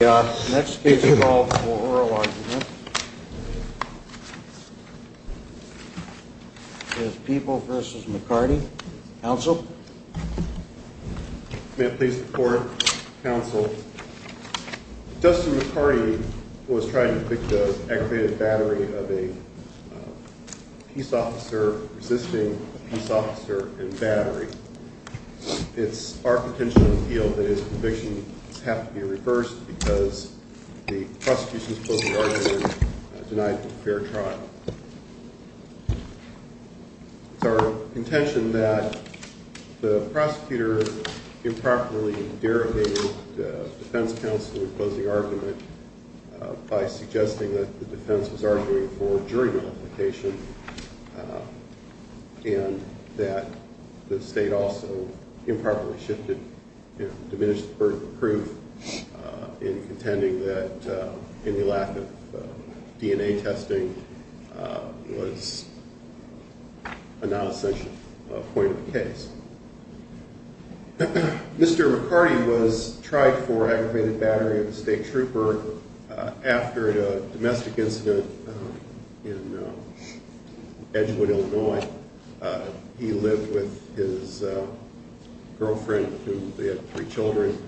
The next case called for oral argument is People v. McCarty. Counsel? May I please report, counsel? Dustin McCarty was trying to convict an aggravated battery of a peace officer resisting a peace officer and battery. It's our potential appeal that his conviction have to be reversed because the prosecution's closing argument denied him fair trial. It's our intention that the prosecutor improperly derogated the defense counsel in closing argument by suggesting that the defense was arguing for jury nullification and that the state also improperly shifted and diminished the burden of proof in contending that any lack of DNA testing was a non-essential point of the case. Mr. McCarty was tried for aggravated battery of a state trooper after a domestic incident in Edgewood, Illinois. He lived with his girlfriend who had three children.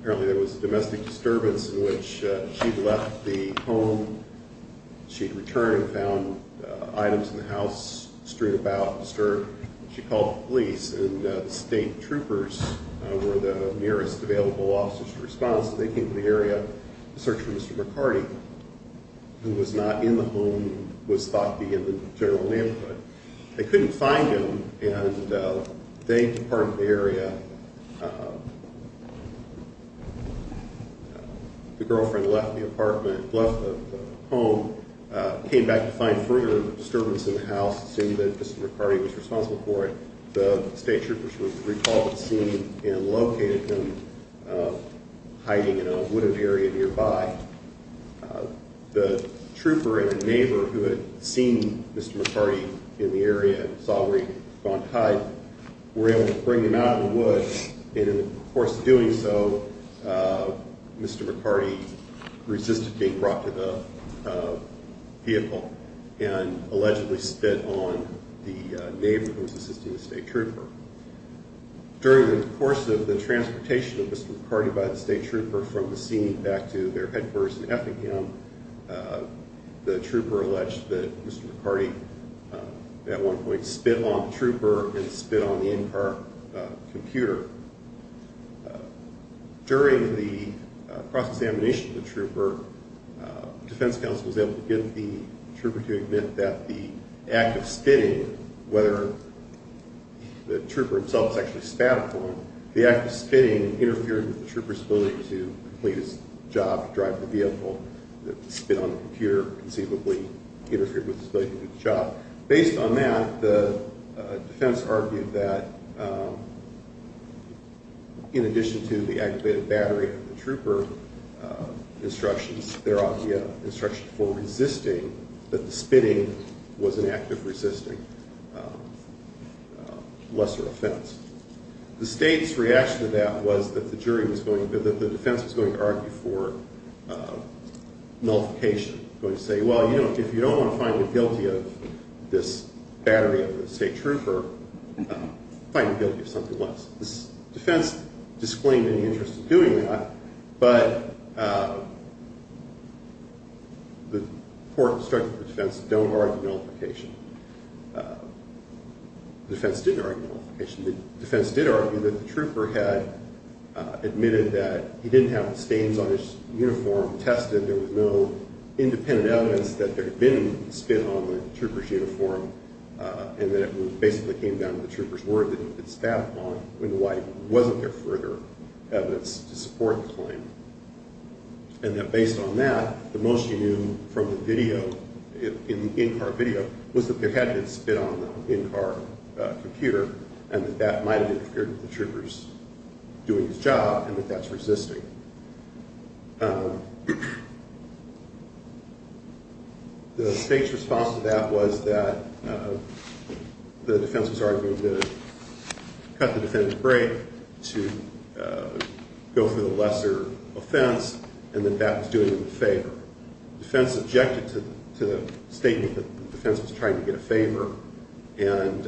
Apparently there was a domestic disturbance in which she'd left the home. She'd returned and found items in the house strewn about, disturbed. She called the police and the state troopers were the nearest available officers to respond. So they came to the area to search for Mr. McCarty, who was not in the home, was thought to be in the general neighborhood. They couldn't find him and they departed the area. The girlfriend left the apartment, left the home, came back to find further disturbance in the house, assuming that Mr. McCarty was responsible for it. The state troopers recalled seeing and located him hiding in a wooded area nearby. The trooper and a neighbor who had seen Mr. McCarty in the area and saw where he had gone to hide were able to bring him out of the woods. And in the course of doing so, Mr. McCarty resisted being brought to the vehicle and allegedly spit on the neighbor who was assisting the state trooper. During the course of the transportation of Mr. McCarty by the state trooper from the scene back to their headquarters in Effingham, the trooper alleged that Mr. McCarty at one point spit on the trooper and spit on the in-car computer. During the cross-examination of the trooper, defense counsel was able to get the trooper to admit that the act of spitting, whether the trooper himself was actually spat upon, the act of spitting interfered with the trooper's ability to complete his job, drive the vehicle. The spit on the computer conceivably interfered with his ability to do the job. Based on that, the defense argued that in addition to the activated battery of the trooper instructions, there ought to be an instruction for resisting that the spitting was an act of resisting lesser offense. The state's reaction to that was that the defense was going to argue for nullification, going to say, well, if you don't want to find me guilty of this battery of the state trooper, find me guilty of something less. The defense disclaimed any interest in doing that, but the court instructed the defense don't argue nullification. The defense didn't argue nullification. The defense did argue that the trooper had admitted that he didn't have the stains on his uniform tested. There was no independent evidence that there had been spit on the trooper's uniform and that it basically came down to the trooper's word that he had been spat upon when there wasn't further evidence to support the claim. And that based on that, the most you knew from the video, in-car video, was that there had been spit on the in-car computer and that that might have interfered with the trooper's doing his job and that that's resisting. The state's response to that was that the defense was arguing to cut the defendant's break, to go for the lesser offense, and that that was doing them a favor. The defense objected to the statement that the defense was trying to get a favor, and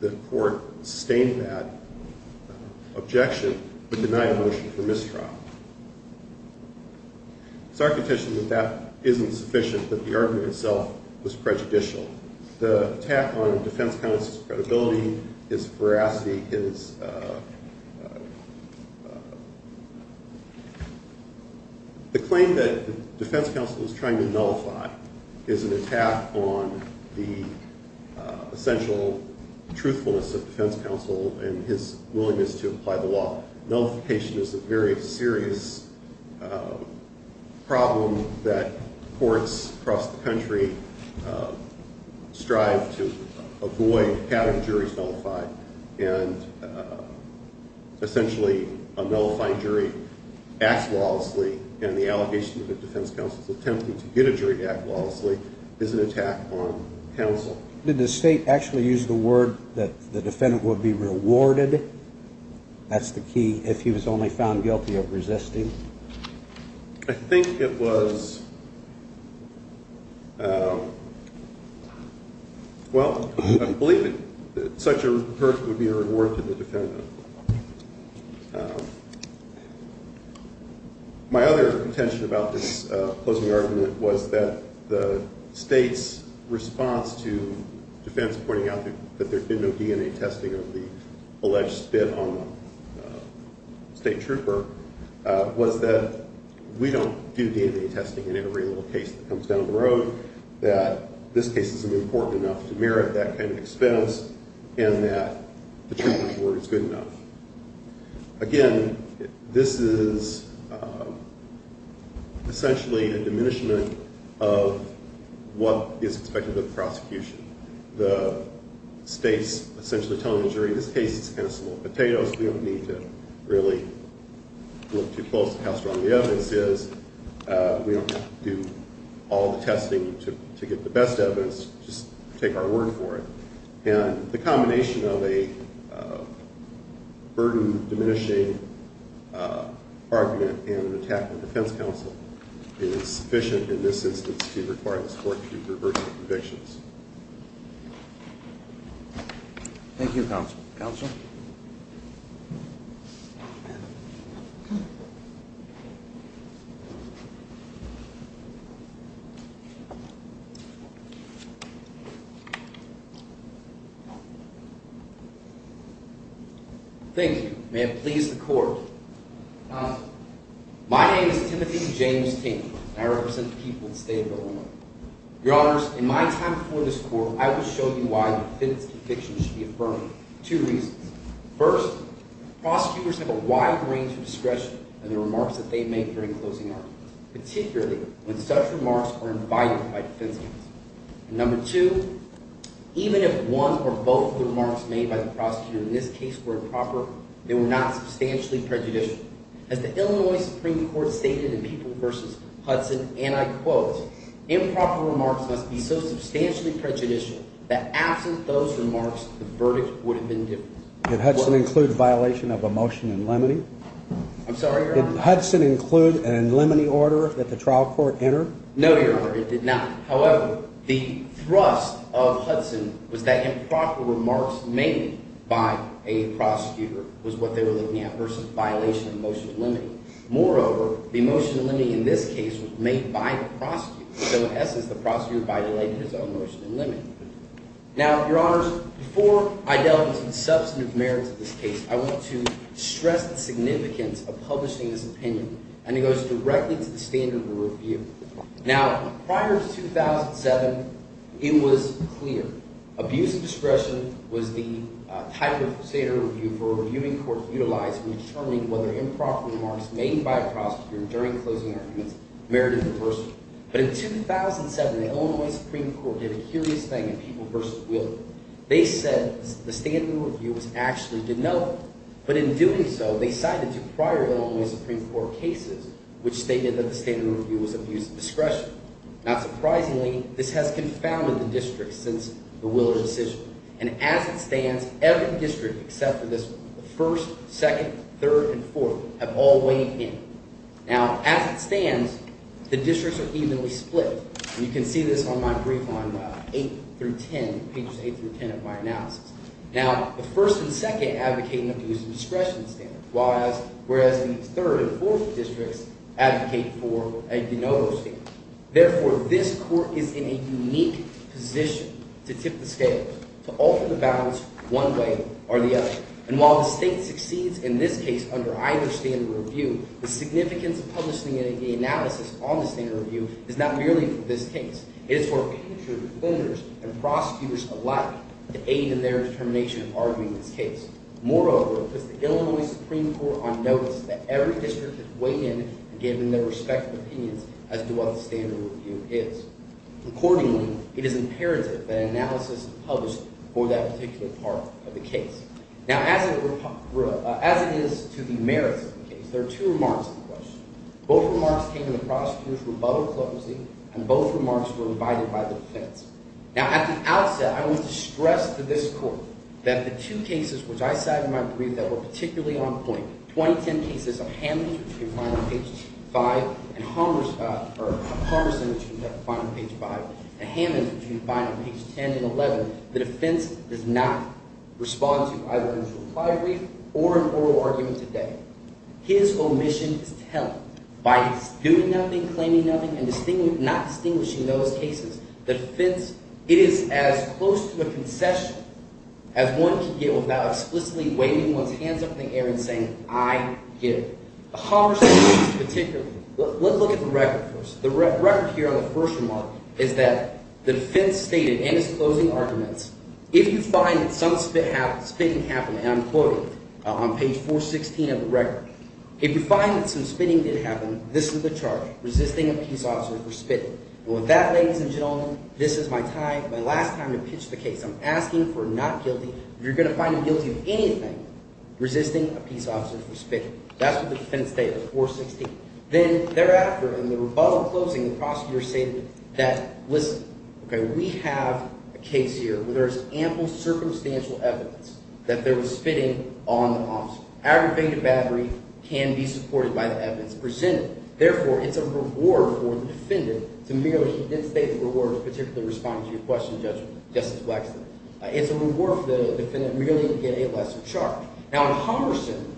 the court sustained that objection, but denied a motion for mistrial. It's architectural that that isn't sufficient, that the argument itself was prejudicial. The attack on the defense counsel's credibility, his veracity, his—the claim that the defense counsel was trying to nullify is an attack on the essential truthfulness of defense counsel and his willingness to apply the law. Nullification is a very serious problem that courts across the country strive to avoid having juries nullified, and essentially a nullified jury acts lawlessly, and the allegation that the defense counsel is attempting to get a jury to act lawlessly is an attack on counsel. Did the state actually use the word that the defendant would be rewarded? That's the key, if he was only found guilty of resisting. I think it was—well, I believe that such a person would be a reward to the defendant. My other contention about this closing argument was that the state's response to defense pointing out that there had been no DNA testing or the alleged spit on the state trooper was that we don't do DNA testing in every little case that comes down the road, that this case isn't important enough to merit that kind of expense, and that the trooper's word is good enough. Again, this is essentially a diminishment of what is expected of the prosecution. The state's essentially telling the jury, this case is kind of small potatoes. We don't need to really look too close to how strong the evidence is. We don't have to do all the testing to get the best evidence. Just take our word for it. And the combination of a burden-diminishing argument and an attack on defense counsel is sufficient in this instance to require this court to reverse the convictions. Thank you, counsel. Counsel? Thank you. May it please the Court. My name is Timothy James Ting, and I represent the people of the state of Illinois. Your Honors, in my time before this Court, I will show you why the defense convictions should be affirmed. Two reasons. First, prosecutors have a wide range of discretion in the remarks that they make during closing arguments, particularly when such remarks are invited by defense counsel. And number two, even if one or both of the remarks made by the prosecutor in this case were improper, they were not substantially prejudicial. As the Illinois Supreme Court stated in People v. Hudson, and I quote, improper remarks must be so substantially prejudicial that absent those remarks, the verdict would have been different. Did Hudson include a violation of a motion in limine? I'm sorry, Your Honor? Did Hudson include an in limine order that the trial court entered? No, Your Honor, it did not. However, the thrust of Hudson was that improper remarks made by a prosecutor was what they were looking at versus a violation of a motion in limine. Moreover, the motion in limine in this case was made by the prosecutor. So in essence, the prosecutor violated his own motion in limine. Now, Your Honors, before I delve into the substantive merits of this case, I want to stress the significance of publishing this opinion, and it goes directly to the standard of review. Now, prior to 2007, it was clear. Abuse of discretion was the type of standard of review for a reviewing court to utilize when determining whether improper remarks made by a prosecutor during closing arguments merited reversal. But in 2007, the Illinois Supreme Court did a curious thing in People v. Wheeler. They said the standard of review was actually denoted. But in doing so, they cited two prior Illinois Supreme Court cases which stated that the standard of review was abuse of discretion. Not surprisingly, this has confounded the district since the Wheeler decision. And as it stands, every district except for this one, the first, second, third, and fourth have all weighed in. Now, as it stands, the districts are evenly split. And you can see this on my brief on 8 through 10, pages 8 through 10 of my analysis. Now, the first and second advocate an abuse of discretion standard, whereas the third and fourth districts advocate for a de novo standard. Therefore, this court is in a unique position to tip the scales, to alter the balance one way or the other. And while the state succeeds in this case under either standard of review, the significance of publishing the analysis on the standard of review is not merely for this case. It is for opinion-driven voters and prosecutors alike to aid in their determination of arguing this case. Moreover, it puts the Illinois Supreme Court on notice that every district has weighed in and given their respective opinions as to what the standard of review is. Accordingly, it is imperative that an analysis is published for that particular part of the case. Now, as it is to the merits of the case, there are two remarks in the question. Both remarks came when the prosecutors were bubble-closing, and both remarks were invited by the defense. Now, at the outset, I want to stress to this court that the two cases which I cited in my brief that were particularly on point, 2010 cases of Hammonds, which you can find on page 5, and Harmerson, which you can find on page 5, and Hammonds, which you can find on page 10 and 11, the defense does not respond to either an interplied brief or an oral argument today. His omission is telling. By doing nothing, claiming nothing, and not distinguishing those cases, the defense – it is as close to a concession as one can get without explicitly waving one's hands up in the air and saying, I give. The Hammerson case particularly – let's look at the record first. The record here on the first remark is that the defense stated in its closing arguments, if you find that some spitting happened – and I'm quoting on page 416 of the record – if you find that some spitting did happen, this is the charge, resisting a peace officer for spitting. And with that, ladies and gentlemen, this is my time, my last time to pitch the case. I'm asking for not guilty. If you're going to find me guilty of anything, resisting a peace officer for spitting. That's what the defense stated, 416. Then thereafter, in the rebuttal closing, the prosecutor stated that, listen, we have a case here where there is ample circumstantial evidence that there was spitting on the officer. Aggravated battery can be supported by the evidence presented. Therefore, it's a reward for the defendant to merely – he did state the reward as particularly responding to your question, Justice Blackstone. It's a reward for the defendant merely to get a lesser charge. Now, in Hammerson,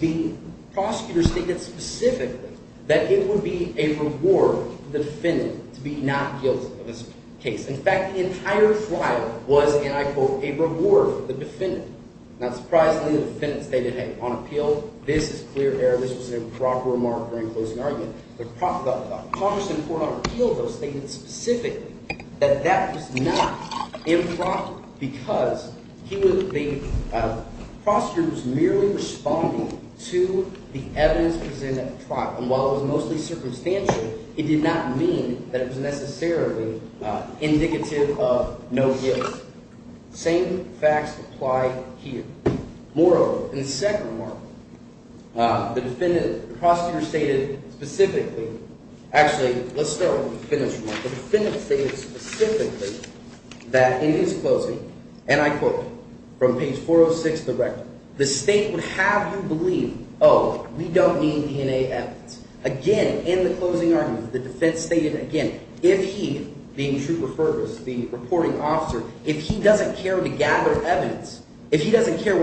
the prosecutor stated specifically that it would be a reward for the defendant to be not guilty of this case. In fact, the entire trial was, and I quote, a reward for the defendant. Not surprisingly, the defendant stated, hey, on appeal, this is clear error. This was an improper remark during closing argument. The Congress in court on appeal, though, stated specifically that that was not improper because he was – the prosecutor was merely responding to the evidence presented at the trial. And while it was mostly circumstantial, it did not mean that it was necessarily indicative of no guilt. Same facts apply here. Moreover, in the second remark, the defendant – the prosecutor stated specifically – actually, let's start with the defendant's remark. The defendant stated specifically that in his closing, and I quote from page 406 of the record, the state would have you believe, oh, we don't need DNA evidence. Whatever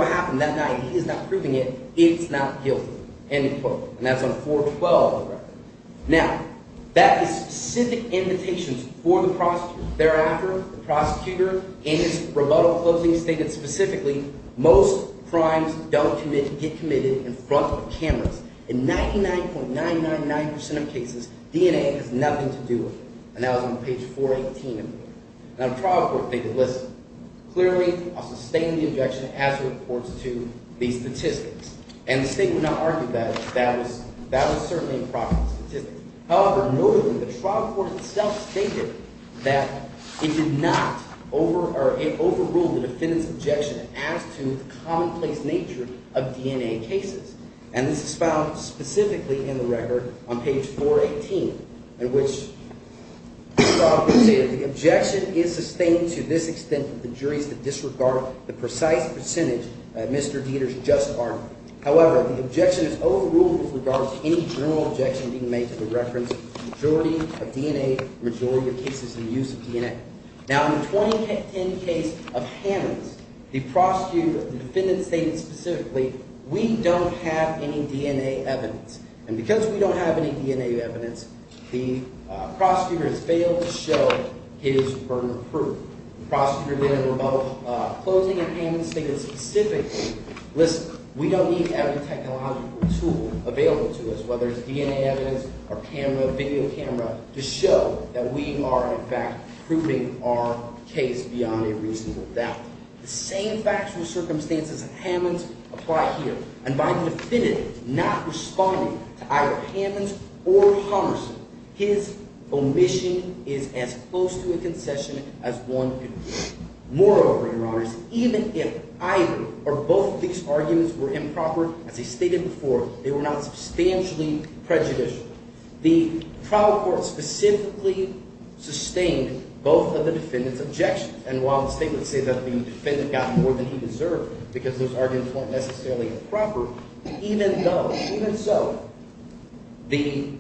happened that night, he is not proving it. It's not guilty, end quote. And that's on 412 of the record. Now, that is specific invitations for the prosecutor. Thereafter, the prosecutor, in his rebuttal closing, stated specifically, most crimes don't get committed in front of cameras. In 99.999% of cases, DNA has nothing to do with it. And that was on page 418 of the record. Now, the trial court stated, listen, clearly, I'll sustain the objection as it reports to these statistics. And the state would not argue that that was certainly an improper statistic. However, notably, the trial court itself stated that it did not over – or it overruled the defendant's objection as to the commonplace nature of DNA cases. And this is found specifically in the record on page 418, in which the trial court stated the objection is sustained to this extent that the jury is to disregard the precise percentage that Mr. Dieter's just argued. However, the objection is overruled with regards to any general objection being made to the reference majority of DNA, majority of cases in use of DNA. Now, in the 2010 case of Hammonds, the prosecutor – the defendant stated specifically, we don't have any DNA evidence. And because we don't have any DNA evidence, the prosecutor has failed to show his burden of proof. The prosecutor then, in rebuttal, closing in Hammonds stated specifically, listen, we don't need every technological tool available to us, whether it's DNA evidence or camera, video camera, to show that we are, in fact, proving our case beyond a reasonable doubt. The same factual circumstances of Hammonds apply here. And by the defendant not responding to either Hammonds or Homerson, his omission is as close to a concession as one could hope. Moreover, Your Honors, even if either or both of these arguments were improper, as I stated before, they were not substantially prejudicial. The trial court specifically sustained both of the defendant's objections. And while the statement says that the defendant got more than he deserved because those arguments weren't necessarily improper, even though – even so, the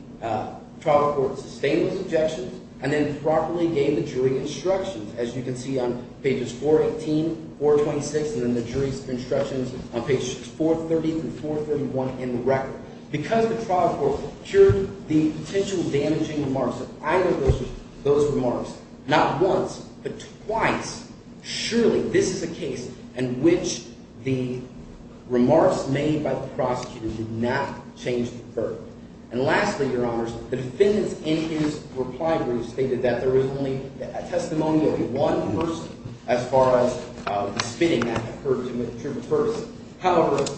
trial court sustained those objections and then properly gave the jury instructions, as you can see on pages 418, 426, and then the jury's instructions on pages 430 through 431 in the record. Because the trial court cured the potential damaging remarks of either of those remarks not once but twice, surely this is a case in which the remarks made by the prosecutor did not change the verdict. And lastly, Your Honors, the defendant's – in his reply brief stated that there is only a testimony of one person as far as the spitting that occurred to him at the Trooper Ferguson. States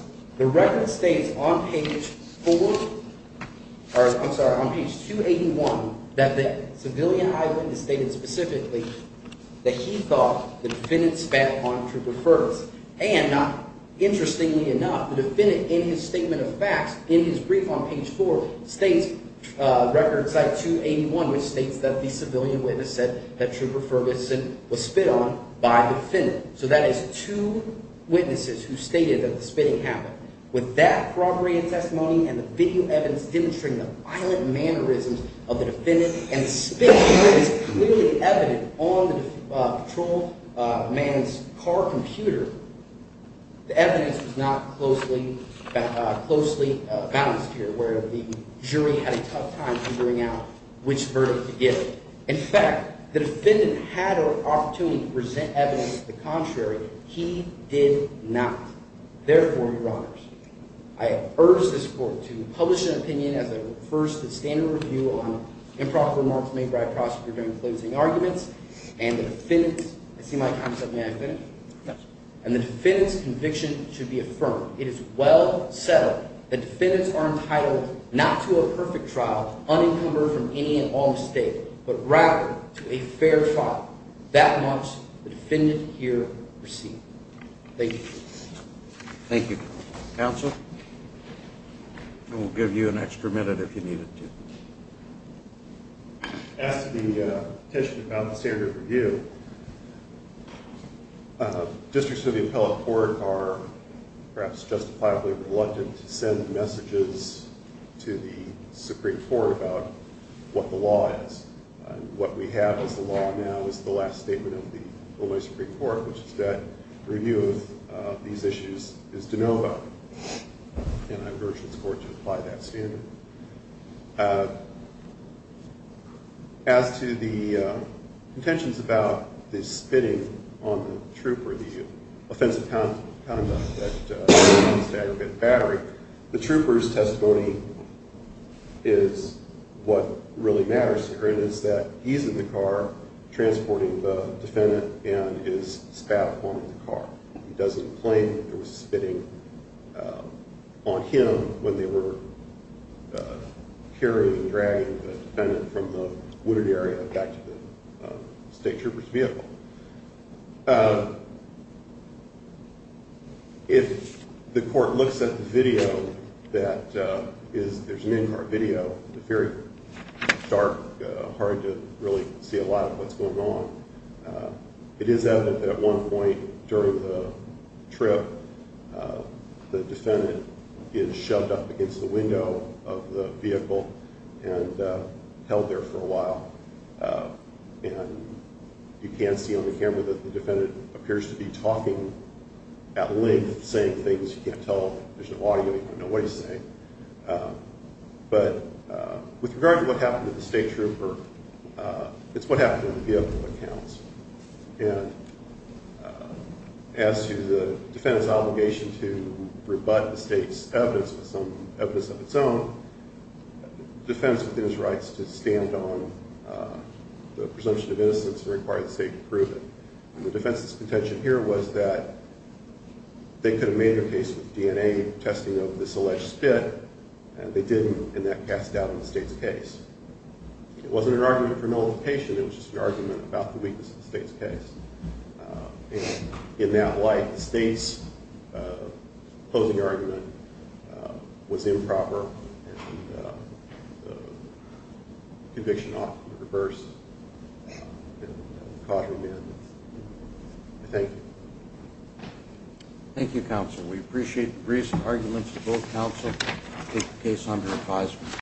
Record Cite 281, which states that the civilian witness said that Trooper Ferguson was spit on by the defendant. So that is two witnesses who stated that the spitting happened. With that corroborated testimony and the video evidence demonstrating the violent mannerisms of the defendant and spitting, which is clearly evident on the patrolled man's car computer, the evidence was not closely balanced here where the jury had a tough time figuring out which verdict to give. In fact, the defendant had an opportunity to present evidence of the contrary. He did not. Therefore, Your Honors, I urge this court to publish an opinion as it refers to the standard review on improper remarks made by a prosecutor during closing arguments and the defendant's – I see my time is up. May I finish? Yes. And the defendant's conviction should be affirmed. It is well settled that defendants are entitled not to a perfect trial unencumbered from any and all mistake, but rather to a fair trial. That much the defendant here received. Thank you. Thank you. Counsel? I will give you an extra minute if you need it to. As to the question about the standard review, districts of the appellate court are perhaps justifiably reluctant to send messages to the Supreme Court about what the law is. What we have as the law now is the last statement of the Illinois Supreme Court, which is that review of these issues is de novo, and I urge this court to apply that standard. As to the contentions about the spitting on the trooper, the offensive conduct that caused the aggregate battery, the trooper's testimony is what really matters to her. The point is that he's in the car transporting the defendant and his staff on the car. He doesn't claim there was spitting on him when they were carrying and dragging the defendant from the wooded area back to the state trooper's vehicle. If the court looks at the video, there's an in-car video. It's very dark, hard to really see a lot of what's going on. It is evident that at one point during the trip, the defendant is shoved up against the window of the vehicle and held there for a while. You can see on the camera that the defendant appears to be talking at length, saying things you can't tell. There's no audio, you don't know what he's saying. With regard to what happened to the state trooper, it's what happened in the vehicle that counts. As to the defendant's obligation to rebut the state's evidence with some evidence of its own, the defendant's within his rights to stand on the presumption of innocence and require the state to prove it. The defense's contention here was that they could have made their case with DNA testing of this alleged spit, and they didn't, and that cast doubt on the state's case. It wasn't an argument for nullification, it was just an argument about the weakness of the state's case. In that light, the state's opposing argument was improper, and the conviction ought to be reversed. Thank you. Thank you, counsel. We appreciate the recent arguments of both counsel to take the case under advisement.